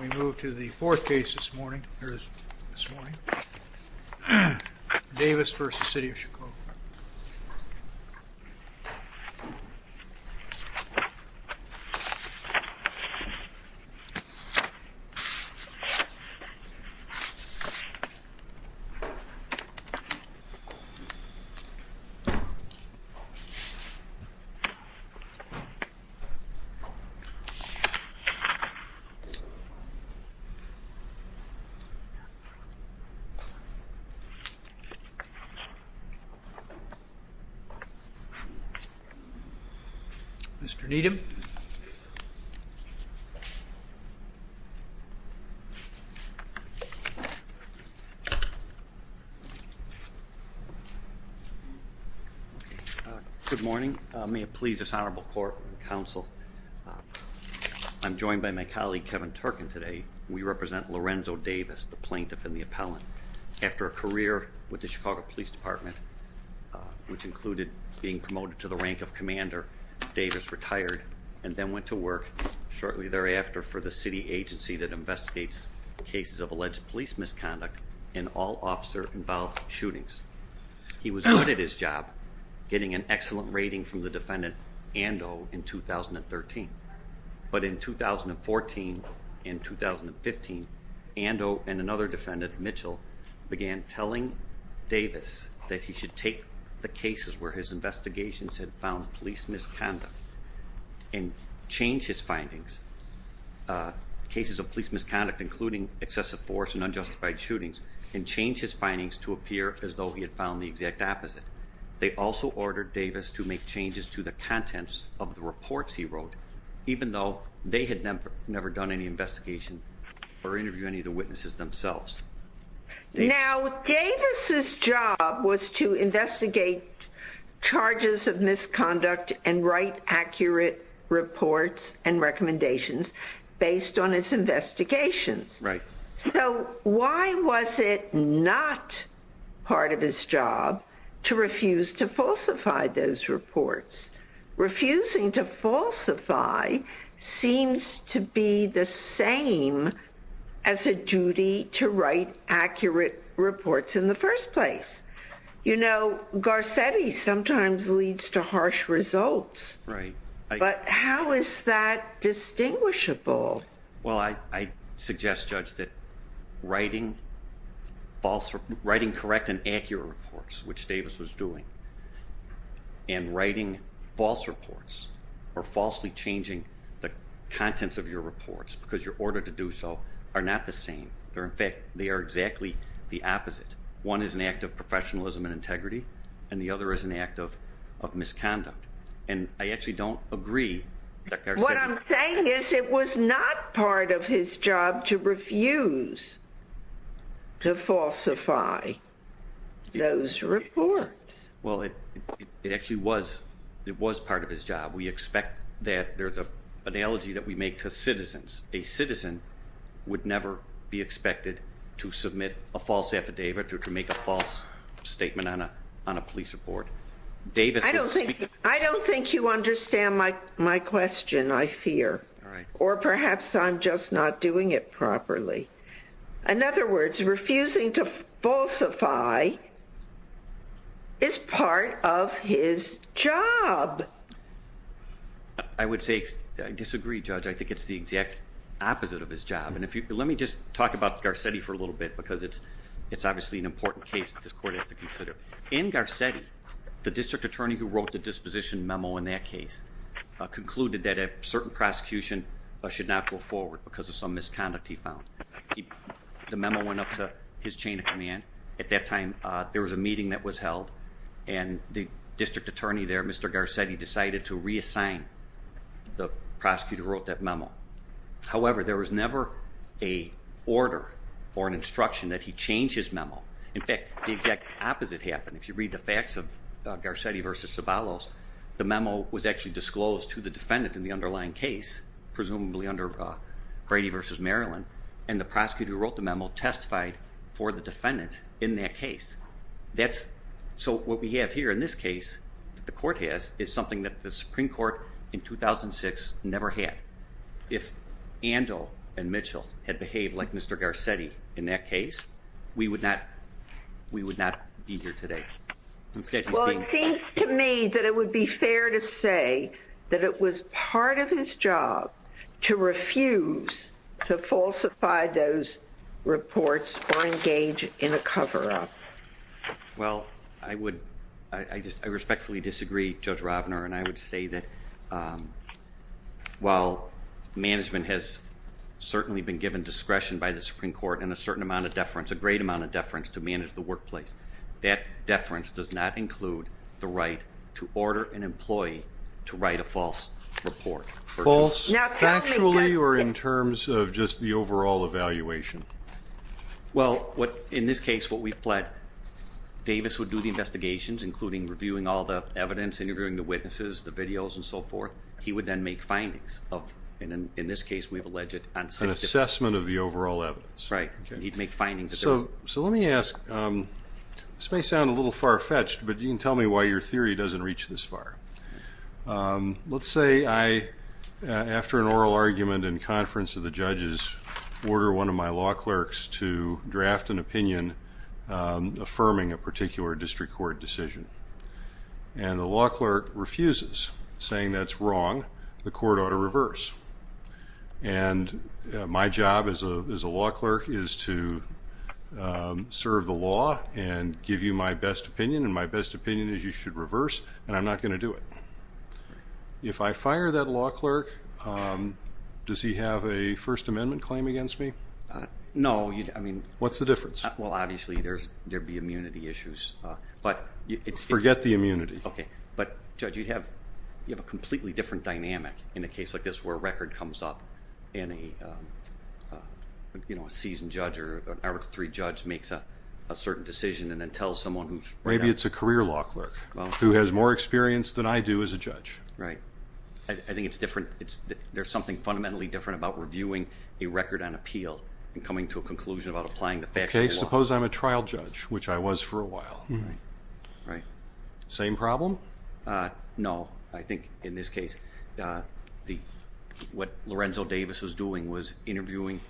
We move to the fourth case this morning, Davis v. City of Chicago. Mr. Needham Good morning, may it please this honorable court and counsel. I'm joined by my colleague Kevin Turkin today. We represent Lorenzo Davis, the plaintiff and the appellant. After a career with the Chicago Police Department, which included being promoted to the rank of commander, Davis retired and then went to work shortly thereafter for the city agency that investigates cases of alleged police misconduct and all officer involved shootings. He was good at his job, getting an excellent rating from the defendant, Ando, in 2013. But in 2014 and 2015, Ando and another defendant, Mitchell, began telling Davis that he should take the cases where his investigations had found police misconduct and change his findings, cases of police misconduct, including excessive force and unjustified shootings, and change his findings to appear as though he had found the exact opposite. They also ordered Davis to make changes to the contents of the reports he wrote, even though they had never never done any investigation or interview any of the witnesses themselves. Now, Davis's job was to investigate charges of misconduct and write accurate reports and recommendations based on his investigations. So why was it not part of his job to refuse to falsify those reports? Refusing to falsify seems to be the same as a duty to write accurate reports in the first place. You know, Garcetti sometimes leads to harsh writing correct and accurate reports, which Davis was doing. And writing false reports or falsely changing the contents of your reports because you're ordered to do so are not the same. They're in fact, they are exactly the opposite. One is an act of professionalism and integrity, and the other is an act of misconduct. And I actually don't agree. What I'm saying is it was not part of his job to refuse to falsify those reports. Well, it actually was part of his job. We expect that there's an analogy that we make to citizens. A citizen would never be expected to submit a false affidavit or to make a false statement on a police report. I don't think you understand my question, I fear. All right. Or perhaps I'm just not doing it properly. In other words, refusing to falsify is part of his job. I would say I disagree, Judge. I think it's the exact opposite of his job. And if you let me just talk about Garcetti for a little bit, because it's obviously an important case that this court has to consider. In Garcetti, the district attorney who wrote the disposition memo in that case concluded that a certain prosecution should not go forward because of some misconduct he found. The memo went up to his chain of command. At that time, there was a meeting that was held and the district attorney there, Mr. Garcetti, decided to reassign the prosecutor who wrote that memo. However, there was never a order or an instruction that he change his memo. In fact, the exact opposite happened. If you read the facts of Garcetti v. Sabalos, the memo was actually disclosed to the defendant in the underlying case, presumably under Brady v. Maryland, and the prosecutor who wrote the memo testified for the defendant in that case. So what we have here in this case that the court has is something that the Supreme Court in 2006 never had. If Andel and Mitchell had behaved like Mr. Garcetti in that case, we would not be here today. Well, it seems to me that it would be fair to say that it was part of his job to refuse to falsify those reports or engage in a cover-up. Well, I respectfully disagree, Judge Ravner, and I would say that while management has certainly been given discretion by the Supreme Court and a certain amount of deference, a great amount of deference to manage the workplace, that deference does not include the right to order an employee to write a false report. False factually or in terms of just the overall evaluation? Well, in this case, what we've pled, Davis would do the investigations, including reviewing all the evidence, interviewing the witnesses, the videos, and so forth. He would then make findings of, in this case we've alleged, an assessment of the overall evidence. Right. He'd make findings. So let me ask, this may sound a little far-fetched, but you can tell me why your theory doesn't reach this far. Let's say I, after an oral argument in conference of the judges, order one of my law and the law clerk refuses, saying that's wrong, the court ought to reverse. And my job as a law clerk is to serve the law and give you my best opinion, and my best opinion is you should reverse, and I'm not going to do it. If I fire that law clerk, does he have a First Amendment claim against me? No. I mean, what's the difference? Well, obviously, there'd be immunity issues, but... Forget the immunity. Okay. But, Judge, you'd have a completely different dynamic in a case like this where a record comes up and a seasoned judge or an Article III judge makes a certain decision and then tells someone who's... Maybe it's a career law clerk who has more experience than I do as a judge. Right. I think it's different. There's something fundamentally different about reviewing a record on appeal and coming to a conclusion about applying the same problem? No. I think in this case, what Lorenzo Davis was doing was interviewing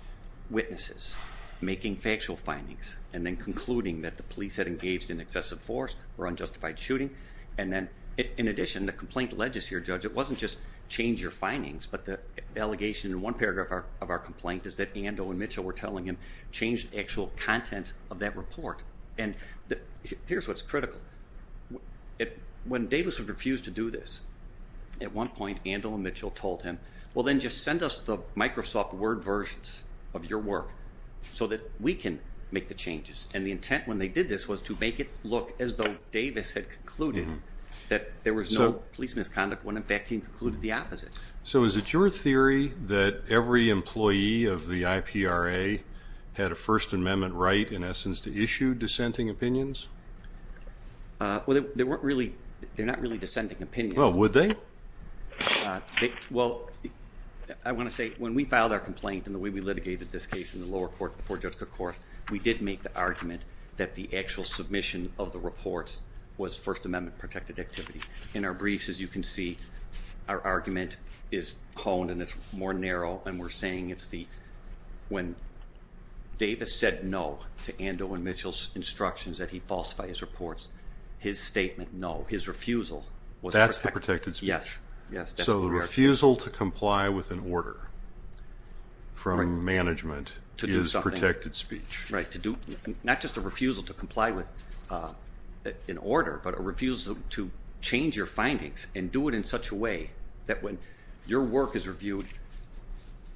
witnesses, making factual findings, and then concluding that the police had engaged in excessive force or unjustified shooting. And then, in addition, the complaint led us here, Judge. It wasn't just change your findings, but the allegation in one paragraph of our complaint is that Ando and Mitchell were telling him, change the actual content of that report. And here's what's critical. When Davis would refuse to do this, at one point, Ando and Mitchell told him, well, then just send us the Microsoft Word versions of your work so that we can make the changes. And the intent when they did this was to make it look as though Davis had concluded that there was no police misconduct when, in fact, he concluded the opposite. So is it your theory that every employee of the IPRA had a First Amendment right, in essence, to issue dissenting opinions? Well, they're not really dissenting opinions. Well, would they? Well, I want to say, when we filed our complaint and the way we litigated this case in the lower court before Judge Cookhorst, we did make the argument that the actual submission of the reports was First Amendment protected activity. In our briefs, you can see our argument is honed and it's more narrow, and we're saying it's the, when Davis said no to Ando and Mitchell's instructions that he falsify his reports, his statement, no, his refusal was protected. That's the protected speech? Yes. So the refusal to comply with an order from management is protected speech? Right. Not just a refusal to comply with an order from management, but a refusal to comply with an order from management. And do it in such a way that when your work is reviewed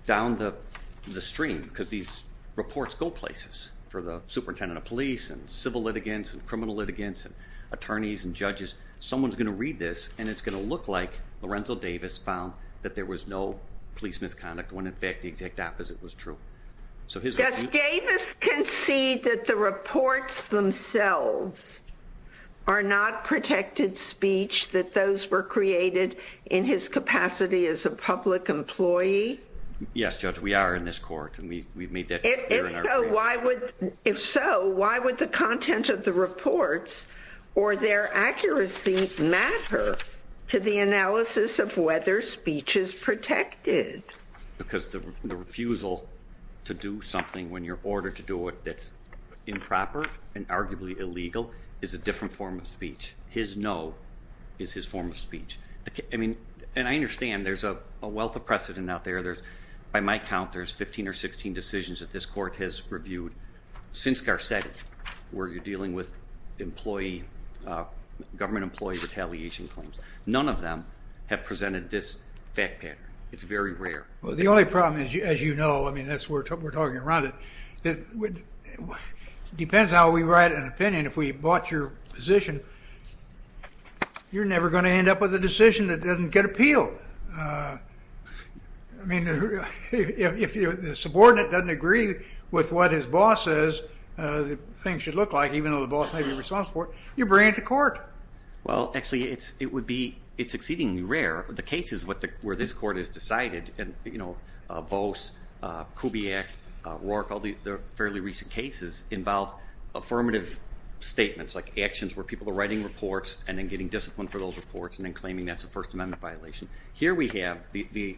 down the stream, because these reports go places for the superintendent of police and civil litigants and criminal litigants and attorneys and judges, someone's going to read this, and it's going to look like Lorenzo Davis found that there was no police misconduct when, in fact, the exact opposite was true. Yes, Davis can see that the reports themselves are not protected speech, that those were created in his capacity as a public employee. Yes, Judge, we are in this court, and we've made that clear. If so, why would the content of the reports or their accuracy matter to the analysis of whether speech is protected? Because the refusal to do something when you're ordered to do it that's improper and arguably illegal is a different form of speech. His no is his form of speech. I mean, and I understand there's a wealth of precedent out there. By my count, there's 15 or 16 decisions that this court has reviewed since Garcetti where you're dealing with government employee retaliation claims. None of them have presented this fact pattern. It's very rare. Well, the only problem is, as you know, I mean, we're talking around it, it depends how we write an opinion. If we bought your position, you're never going to end up with a decision that doesn't get appealed. I mean, if the subordinate doesn't agree with what his boss says the thing should look like, even though the boss may be responsible for it, you bring it to court. Well, actually, it's exceedingly rare. The cases where this court has decided, you know, Vose, Kubiak, Rourke, all the fairly recent cases involve affirmative statements like actions where people are writing reports and then getting disciplined for those reports and then claiming that's a First Amendment violation. Here we have the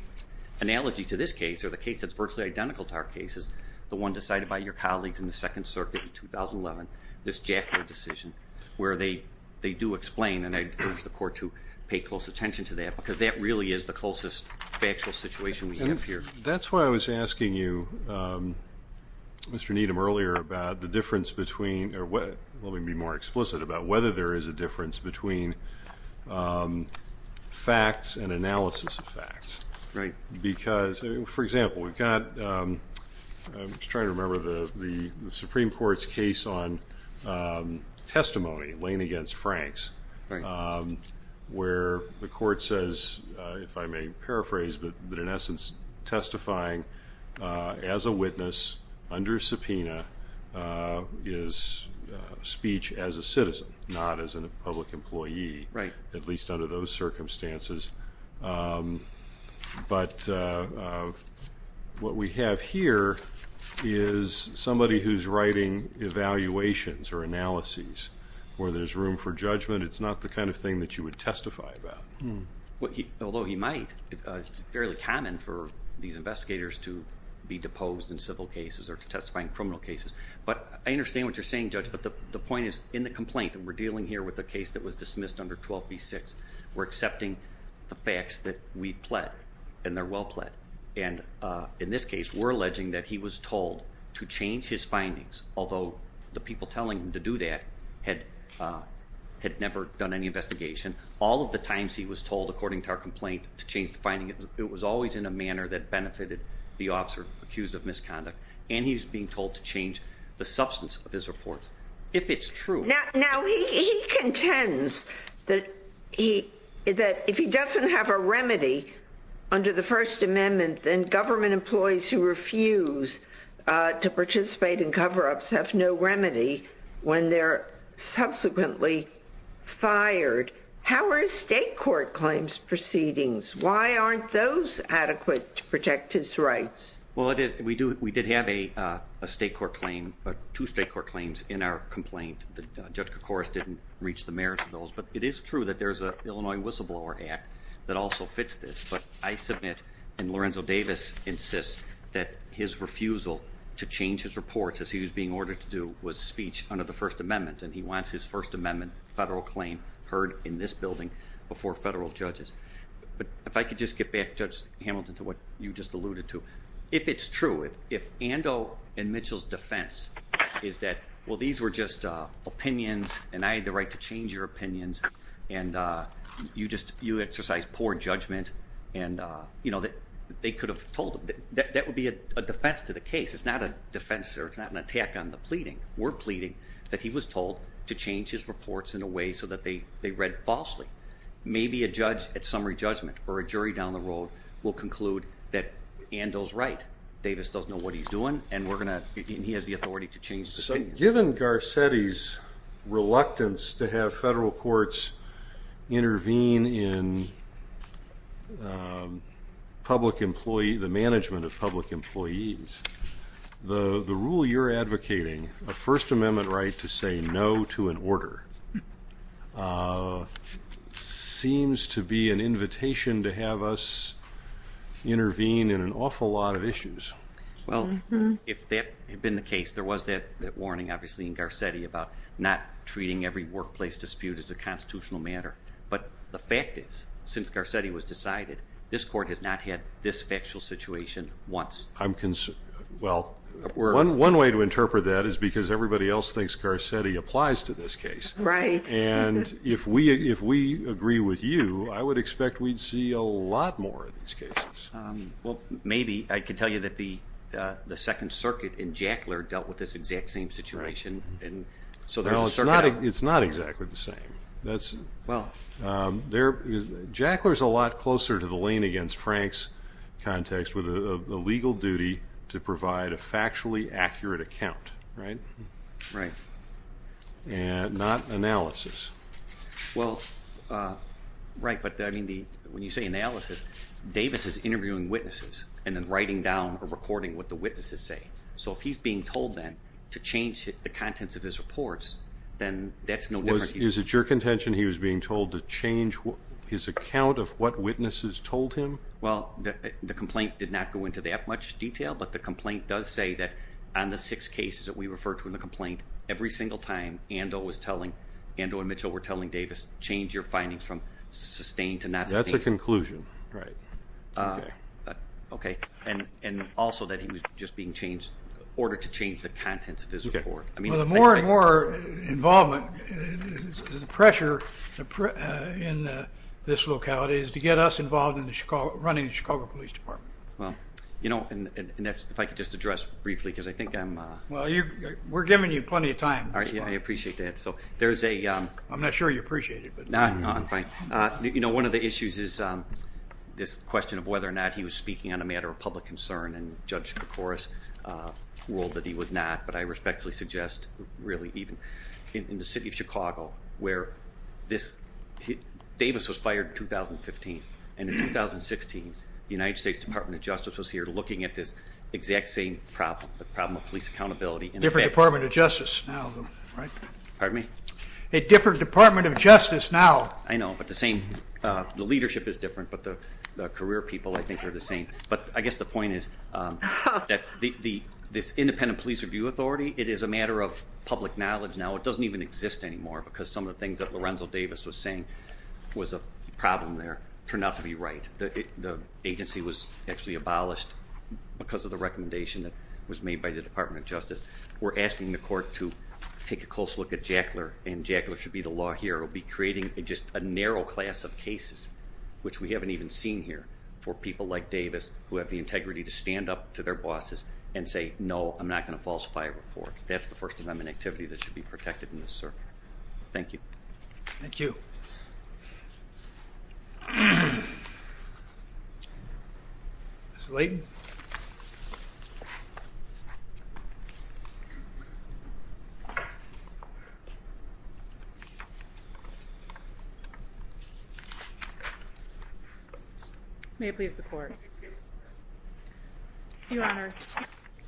analogy to this case or the case that's virtually identical to our case is the one decided by your colleagues in the Second Circuit in 2011, this Jackler decision, where they do explain, and I urge the court to pay close attention to that because that really is the closest factual situation we have here. That's why I was asking you, Mr. Needham, earlier about the difference between, or let me be more explicit about whether there is a difference between facts and analysis of facts. Right. Because, for example, we've got, I'm just trying to remember the Supreme Court's case on testimony, Lane against Franks, where the court says, if I may paraphrase, but in essence testifying as a witness under subpoena is speech as a citizen, not as a public employee, at least under those circumstances. But what we have here is somebody who's writing evaluations or analyses where there's room for judgment. It's not the kind of thing that you would testify about. Although he might, it's fairly common for these investigators to be deposed in civil cases or to testify in criminal cases. But I understand what you're saying, Judge, but the point is in the complaint that we're dealing here with a case that was dismissed under 12B6, we're accepting the facts that we've pled and they're well pled. And in this case, we're alleging that he was told to change his findings, although the people telling him to do that had never done any investigation. All of the times he was told, according to our complaint, to change the finding, it was always in a manner that benefited the officer accused of misconduct. And he's being told to change the substance of his reports, if it's true. Now, he contends that if he doesn't have a remedy under the First Amendment, then government employees who refuse to participate in cover-ups have no remedy when they're subsequently fired. How are his state court claims proceedings? Why aren't those adequate to protect his rights? Well, we did have a state court claim, two state court claims in our complaint. Judge Koukouras didn't reach the merits of those, but it is true that there's an Illinois whistleblower act that also fits this. But I insist that his refusal to change his reports, as he was being ordered to do, was speech under the First Amendment. And he wants his First Amendment federal claim heard in this building before federal judges. But if I could just get back, Judge Hamilton, to what you just alluded to. If it's true, if Ando and Mitchell's defense is that, well, these were just opinions and I had the right to change your opinions. And you exercise poor judgment and they could have told him. That would be a defense to the case. It's not an attack on the pleading. We're pleading that he was told to change his reports in a way so that they read falsely. Maybe a judge at summary judgment or a jury down the road will conclude that Ando's right. Davis doesn't know what he's doing and he has the authority to change his opinion. So given Garcetti's reluctance to have federal courts intervene in public employee, the management of public employees, the rule you're advocating, a First Amendment right to say no to an order, seems to be an invitation to have us intervene in an awful lot of issues. Well, if that had been the warning, obviously, in Garcetti about not treating every workplace dispute as a constitutional matter. But the fact is, since Garcetti was decided, this court has not had this factual situation once. Well, one way to interpret that is because everybody else thinks Garcetti applies to this case. Right. And if we agree with you, I would expect we'd see a lot more of these cases. Well, maybe I could tell you that the Second Circuit in Jackler dealt with this exact same situation. It's not exactly the same. Jackler is a lot closer to the lien against Frank's context with a legal duty to provide a factually accurate account, right? Right. And not analysis. Well, right. But I mean, when you say analysis, Davis is interviewing witnesses and then writing down or recording what the witnesses say. So if he's being told then to change the contents of his reports, then that's no different. Is it your contention he was being told to change his account of what witnesses told him? Well, the complaint did not go into that much detail. But the complaint does say that on the six cases that we refer to every single time Ando and Mitchell were telling Davis, change your findings from sustained to not sustained. That's a conclusion. Right. Okay. And also that he was just being ordered to change the contents of his report. Well, the more and more involvement, the pressure in this locality is to get us involved in running the Chicago Police Department. Well, and if I could just briefly because I think I'm... Well, we're giving you plenty of time. I appreciate that. So there's a... I'm not sure you appreciate it, but... No, I'm fine. One of the issues is this question of whether or not he was speaking on a matter of public concern and Judge Koukouras ruled that he was not, but I respectfully suggest really even in the city of Chicago where this... Davis was fired in 2015. And in 2016, the United States Department of Justice was here looking at this exact same problem, the problem of police accountability. Different Department of Justice now, right? Pardon me? A different Department of Justice now. I know, but the same... The leadership is different, but the career people I think are the same. But I guess the point is that this independent police review authority, it is a matter of public knowledge now. It doesn't even exist anymore because some of the things that Lorenzo Davis was saying was a problem there turned out to be right. The agency was actually abolished because of the recommendation that was made by the Department of Justice. We're asking the court to take a close look at Jackler, and Jackler should be the law here. We'll be creating just a narrow class of cases, which we haven't even seen here, for people like Davis who have the integrity to stand up to their bosses and say, no, I'm not going to falsify a report. That's the First Amendment activity that should be protected in this circuit. Thank you. Thank you. Mr. Layden. May it please the court. Your Honor,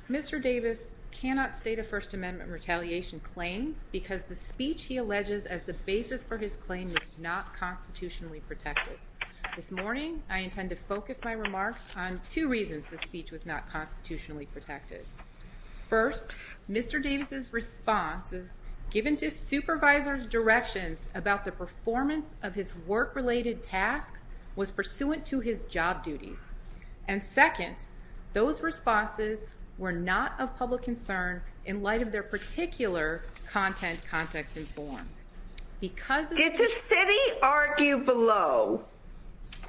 Mr. Davis cannot state a First Amendment retaliation claim because the speech he alleges as the basis for his claim was not constitutionally protected. This morning, I intend to focus my remarks on two reasons the speech was not constitutionally protected. First, Mr. Davis's responses given to supervisors directions about the performance of his work-related tasks was pursuant to his job duties. And second, those responses were not of context and form. Did the city argue below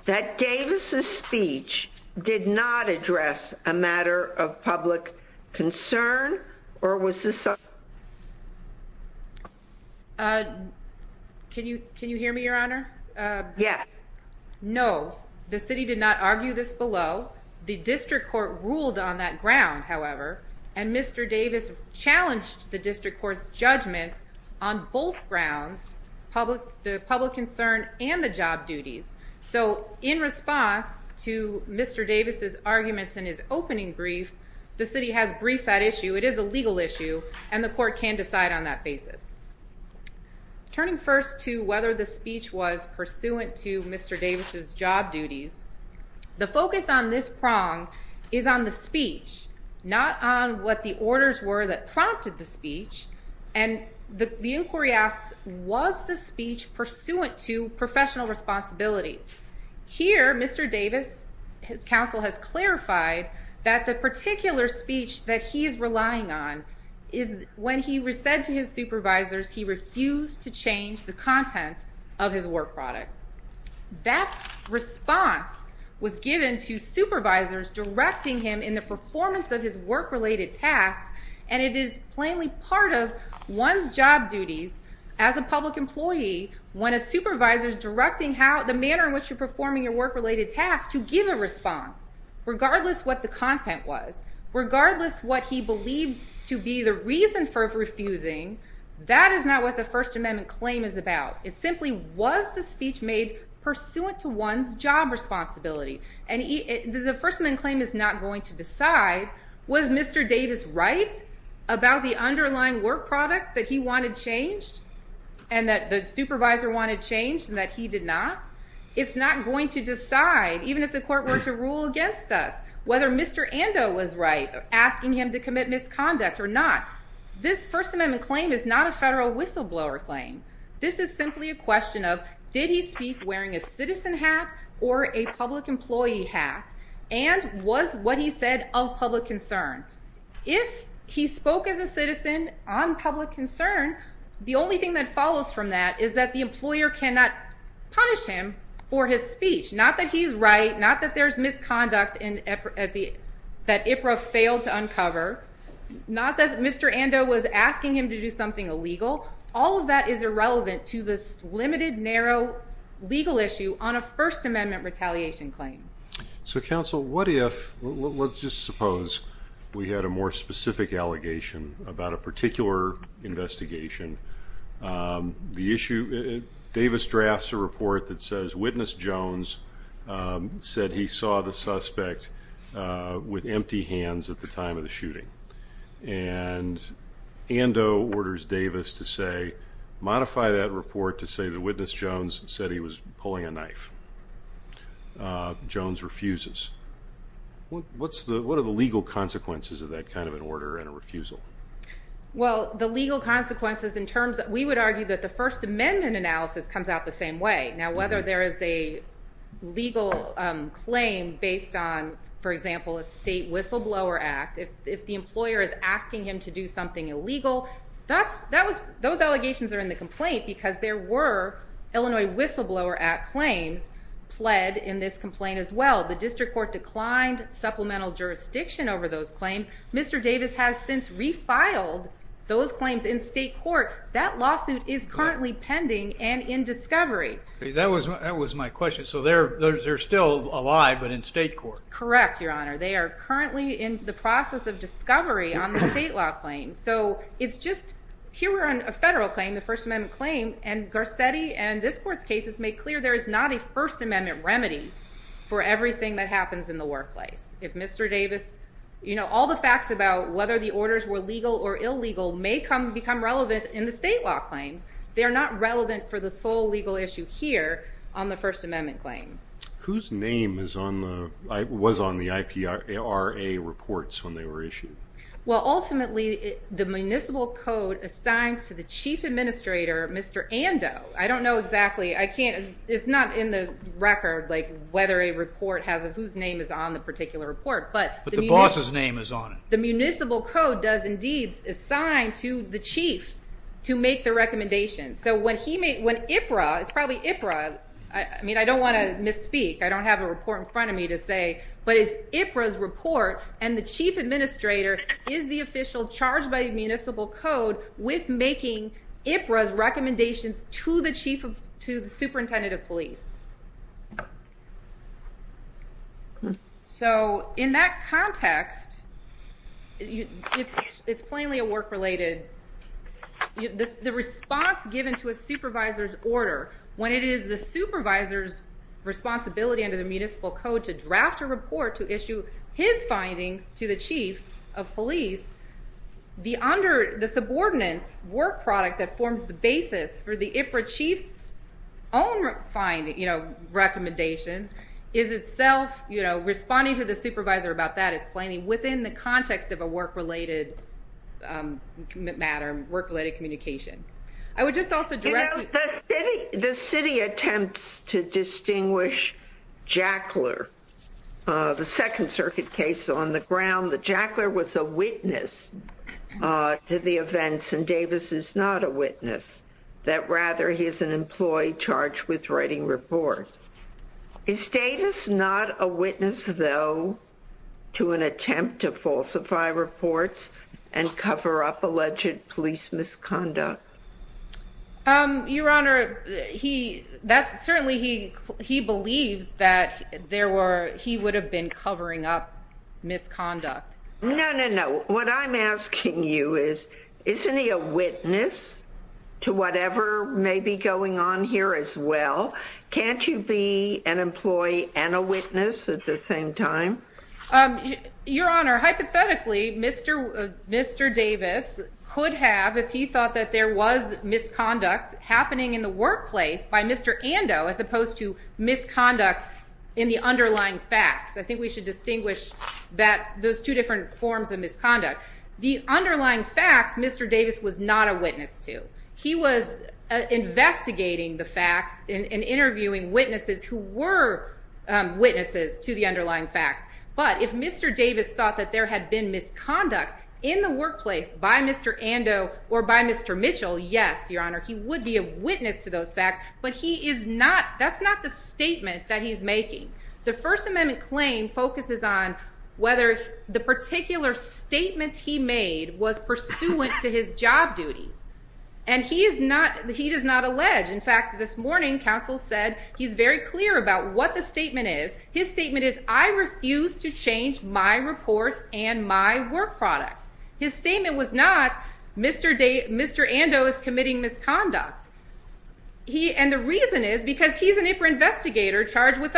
that Davis's speech did not address a matter of public concern, or was this? Can you hear me, Your Honor? Yeah. No, the city did not argue this below. The district court ruled on that ground, however, and Mr. Davis challenged the district court's judgment on both grounds, the public concern and the job duties. So in response to Mr. Davis's arguments in his opening brief, the city has briefed that issue. It is a legal issue, and the court can decide on that basis. Turning first to whether the speech was pursuant to Mr. Davis's job duties, the focus on this prong is on the speech, not on what the orders were that the inquiry asks, was the speech pursuant to professional responsibilities? Here, Mr. Davis, his counsel has clarified that the particular speech that he is relying on is when he said to his supervisors he refused to change the content of his work product. That response was given to supervisors directing him in the performance of his work-related tasks, and it is plainly part of one's job duties as a public employee when a supervisor is directing the manner in which you're performing your work-related tasks to give a response, regardless what the content was, regardless what he believed to be the reason for refusing. That is not what the First Amendment claim is about. It simply was the speech made pursuant to one's job responsibility, and the First Amendment claim is not going to decide, was Mr. Davis right about the underlying work product that he wanted changed and that the supervisor wanted changed and that he did not? It's not going to decide, even if the court were to rule against us, whether Mr. Ando was right asking him to commit misconduct or not. This First Amendment claim is not a federal whistleblower claim. This is simply a question of, did he speak wearing a citizen hat or a public employee hat, and was what he said of public concern? If he spoke as a citizen on public concern, the only thing that follows from that is that the employer cannot punish him for his speech, not that he's right, not that there's misconduct that IPRA failed to uncover, not that Mr. Ando was asking him to do something illegal. All of that is irrelevant to this counsel. What if, let's just suppose we had a more specific allegation about a particular investigation. Davis drafts a report that says witness Jones said he saw the suspect with empty hands at the time of the shooting, and Ando orders Davis to modify that report to the witness Jones said he was pulling a knife. Jones refuses. What are the legal consequences of that kind of an order and a refusal? Well, the legal consequences in terms of, we would argue that the First Amendment analysis comes out the same way. Now, whether there is a legal claim based on, for example, a state whistleblower act, if the employer is asking him to do something illegal, those allegations are in the complaint because there were Illinois Whistleblower Act claims pled in this complaint as well. The district court declined supplemental jurisdiction over those claims. Mr. Davis has since refiled those claims in state court. That lawsuit is currently pending and in discovery. That was my question. So they're still alive, but in state court? Correct, your honor. They are currently in the process of discovery on the state law claim. So it's just, here we're on a federal claim, the First Amendment claim and Garcetti and this court's cases make clear there is not a First Amendment remedy for everything that happens in the workplace. If Mr. Davis, you know, all the facts about whether the orders were legal or illegal may come become relevant in the state law claims. They're not relevant for the sole legal issue here on the First Amendment claim. Whose name is on the, was on the IPRA reports when they were issued? Well, ultimately the municipal code assigns to the chief administrator, Mr. Ando. I don't know exactly, I can't, it's not in the record, like whether a report has of whose name is on the particular report. But the boss's name is on it. The municipal code does indeed assign to the chief to make the recommendation. So when he made, when IPRA, it's probably IPRA, I mean, I don't want to misspeak. I don't have a report in front of me to say, but it's IPRA's report and the chief administrator is the official charged by the municipal code with making IPRA's recommendations to the chief of, to the superintendent of police. So in that context, it's, it's plainly a work related, the response given to a supervisor's order, when it is the supervisor's responsibility under the municipal code to draft a report, to issue his findings to the chief of police, the under, the subordinates work product that forms the basis for the IPRA chief's own finding, you know, recommendations is itself, you know, responding to the supervisor about that is plainly within the context of a work related matter, work related communication. I would just also direct. The city attempts to distinguish Jackler, the second circuit case on the ground, that Jackler was a witness to the events and Davis is not a witness, that rather he is an employee charged with writing report. Is Davis not a witness though, to an attempt to falsify reports and cover up alleged police misconduct? Um, your honor, he, that's certainly he, he believes that there were, he would have been covering up misconduct. No, no, no. What I'm asking you is, isn't he a witness to whatever may be going on here as well? Can't you be an employee and a witness at the same time? Um, your honor, hypothetically, Mr, Mr. Davis could have, if he thought that there was misconduct happening in the workplace by Mr. Ando, as opposed to misconduct in the underlying facts. I think we should distinguish that those two different forms of misconduct, the underlying facts, Mr. Davis was not a witness to. He was investigating the facts and interviewing witnesses who were, um, witnesses to the underlying facts. But if Mr. Davis thought that there had been misconduct in the workplace by Mr. Ando or by Mr. Mitchell, yes, your honor, he would be a witness to those facts, but he is not, that's not the statement that he's making. The first amendment claim focuses on whether the particular statement he made was pursuant to his job duties. And he is not, he does not allege. In fact, this morning, counsel said he's very clear about what the statement is. His statement is, I refuse to change my reports and my work product. His statement was not, Mr. Davis, Mr. Ando is committing misconduct. He, and the reason is because he's an IPRA investigator charged with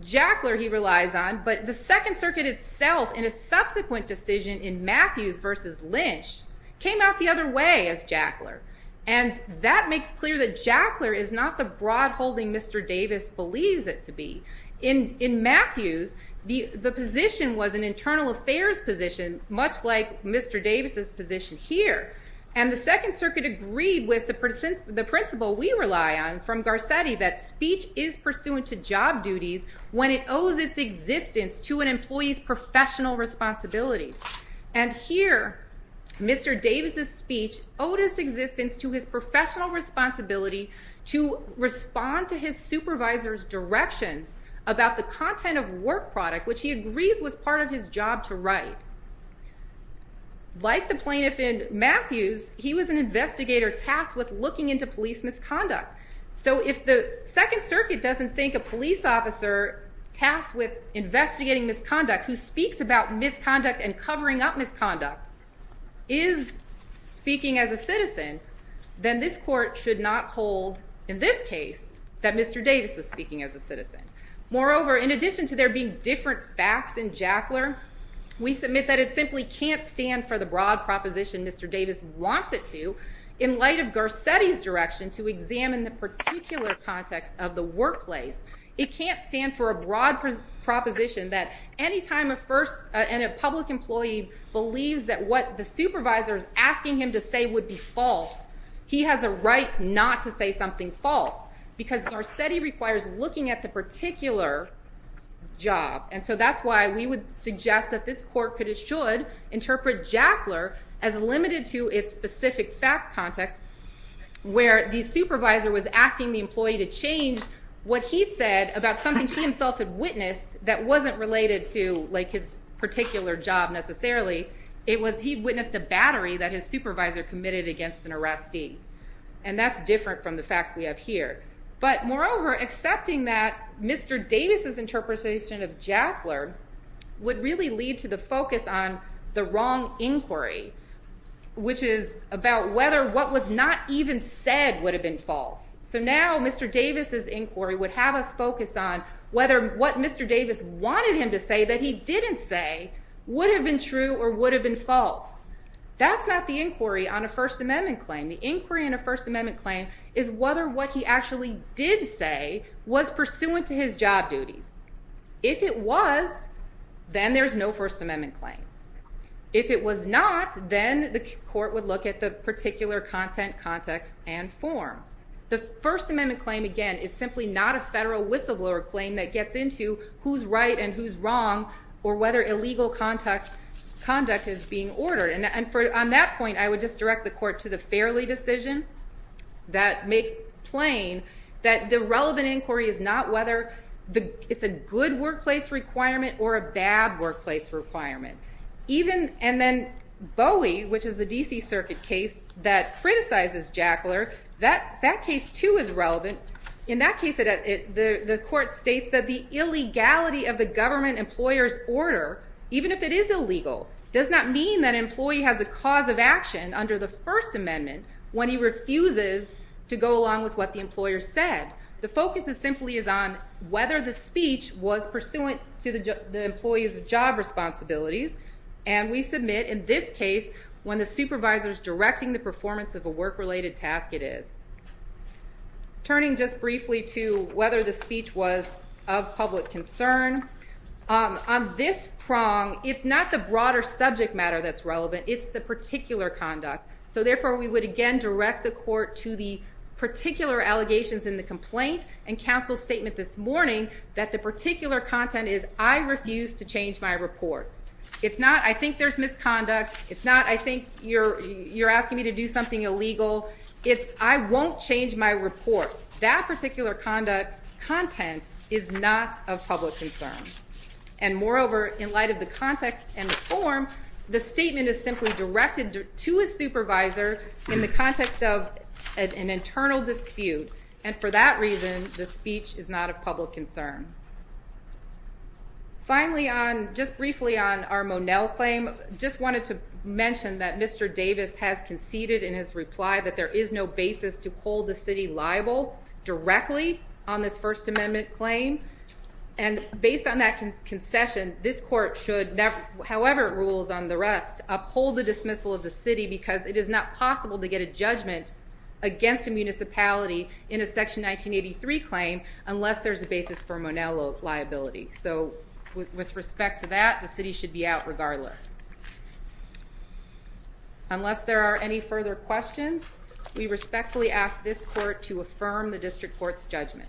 Jackler he relies on, but the second circuit itself in a subsequent decision in Matthews versus Lynch came out the other way as Jackler. And that makes clear that Jackler is not the broad holding Mr. Davis believes it to be. In, in Matthews, the, the position was an internal affairs position, much like Mr. Davis's position here. And the second circuit agreed with the principle we rely on from Garcetti that speech is pursuant to job duties when it owes its existence to an employee's professional responsibility. And here, Mr. Davis's speech owed its existence to his professional responsibility to respond to his supervisor's directions about the content of work product, which he agrees was part of his job to write. Like the plaintiff in Matthews, he was an investigator tasked with looking into police misconduct. So if the second circuit doesn't think a police officer tasked with investigating misconduct who speaks about misconduct and covering up misconduct is speaking as a citizen, then this court should not hold in this case that Mr. Davis was speaking as a citizen. Moreover, in addition to there being different facts in Jackler, we submit that it simply can't stand for the broad proposition Mr. Davis wants it to in light of Garcetti's direction to examine the particular context of the workplace. It can't stand for a broad proposition that any time a first, and a public employee believes that what the supervisor is asking him to say would be false, he has a right not to say something false because Garcetti requires looking at the particular job. And so that's why we would suggest that this court should interpret Jackler as limited to its specific fact context where the supervisor was asking the employee to change what he said about something he himself had witnessed that wasn't related to his particular job necessarily. It was he witnessed a battery that his supervisor committed against an arrestee. And that's different from the facts we have here. But moreover, accepting that Mr. Davis's interpretation of Jackler would really lead to the focus on the wrong inquiry, which is about whether what was not even said would have been false. So now Mr. Davis's inquiry would have us focus on whether what Mr. Davis wanted him to say that he didn't say would have been true or would have been false. That's not the inquiry on a First Amendment claim. The inquiry in a First Amendment claim is whether what he actually did say was pursuant to his job duties. If it was, then there's no First Amendment claim. If it was not, then the court would look at the particular content, context, and form. The First Amendment claim, again, it's simply not a federal whistleblower claim that gets into who's right and who's wrong or whether illegal conduct is being ordered. On that point, I would just direct the court to the Fairley decision that makes plain that the relevant inquiry is not whether it's a good workplace requirement or a bad workplace requirement. And then Bowie, which is the D.C. Circuit case that criticizes Jackler, that case too is relevant. In that case, the court states that the illegality of the government employer's order, even if it is illegal, does not mean that an employee has a cause of action under the First Amendment when he refuses to go along with what the employer said. The focus simply is on whether the speech was pursuant to the employee's job responsibilities, and we submit in this case when the supervisor is directing the performance of a work-related task, it is. Turning just briefly to whether the speech was of public concern, on this prong, it's not the broader subject matter that's relevant, it's the particular conduct. So therefore, we would again direct the court to the particular allegations in the complaint and counsel's statement this morning that the particular content is, I refuse to change my reports. It's not, I think there's misconduct. It's not, I think you're asking me to do something illegal. It's, I won't change my report. That particular conduct, content, is not of public concern. And moreover, in light of the context and the form, the statement is simply directed to a supervisor in the context of an internal dispute. And for that reason, the speech is not of public concern. Finally on, just briefly on our Monell claim, just wanted to mention that Mr. Davis has conceded in his reply that there is no basis to hold the city liable directly on this First Amendment claim. And based on that concession, this court should, however it rules on the rest, uphold the dismissal of the city because it is not possible to get a judgment against a municipality in a Section 1983 claim unless there's a basis for Monell liability. So with respect to that, the city should be out regardless. Unless there are any further questions, we respectfully ask this court to affirm the district court's judgment.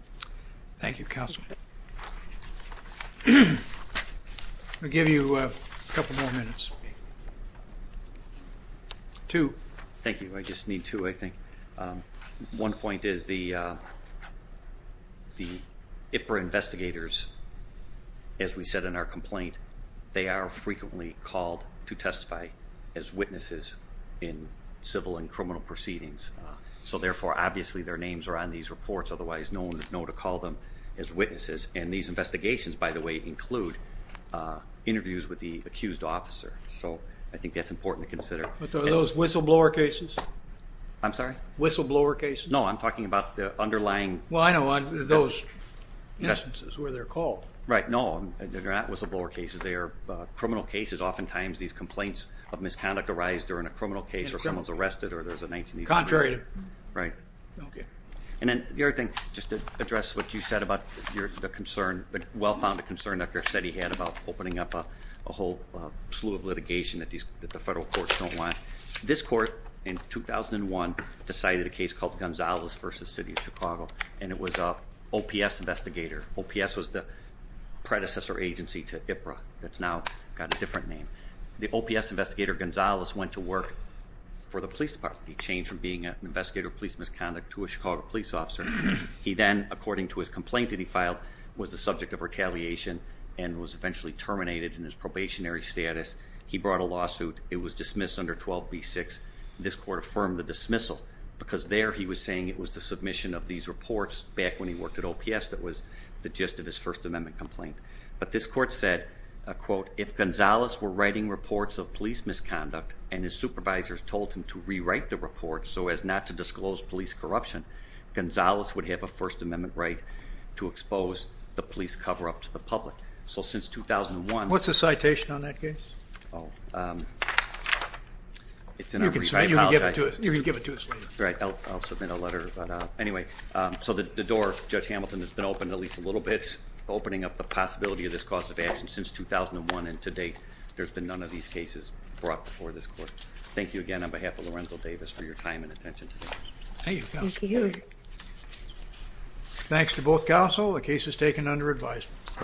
Thank you, counsel. I'll give you a couple more minutes. Two. Thank you. I just need two, I think. One point is the IPRA investigators, as we said in our complaint, they are frequently called to testify as witnesses in civil and criminal proceedings. So therefore, obviously their names are on these reports. Otherwise, no one would know to call them as witnesses. And these investigations, by the way, include interviews with the accused officer. So I think that's important to consider. But are those whistleblower cases? I'm sorry? Whistleblower cases? No, I'm talking about the underlying... Well, I know those instances where they're called. Right. No, they're not whistleblower cases. They are criminal cases. Oftentimes these complaints of misconduct arise during a criminal case or someone's arrested or there's a 1983... Right. Okay. And then the other thing, just to address what you said about the concern, the well-founded concern that Garcetti had about opening up a whole slew of litigation that the federal courts don't want. This court in 2001 decided a case called Gonzalez versus City of Chicago. And it was an OPS investigator. OPS was the predecessor agency to IPRA that's now got a different name. The OPS investigator Gonzalez went to work for the police department. He changed from being an investigator of police misconduct to a Chicago police officer. He then, according to his complaint that he filed, was the subject of retaliation and was eventually terminated in his probationary status. He brought a lawsuit. It was dismissed under 12B6. This court affirmed the dismissal because there he was saying it was the submission of these reports back when he worked at OPS that was the gist of his First Amendment complaint. But this court said, quote, if Gonzalez were writing reports of police misconduct and his report so as not to disclose police corruption, Gonzalez would have a First Amendment right to expose the police cover-up to the public. So since 2001... What's the citation on that case? It's in our... You can give it to us later. Right. I'll submit a letter. But anyway, so the door, Judge Hamilton, has been opened at least a little bit, opening up the possibility of this cause of action since 2001. And to date, there's been none of these cases brought before this court. Thank you again on behalf of Lorenzo Davis for your time and attention today. Thank you. Thanks to both counsel. The case is taken under advisement.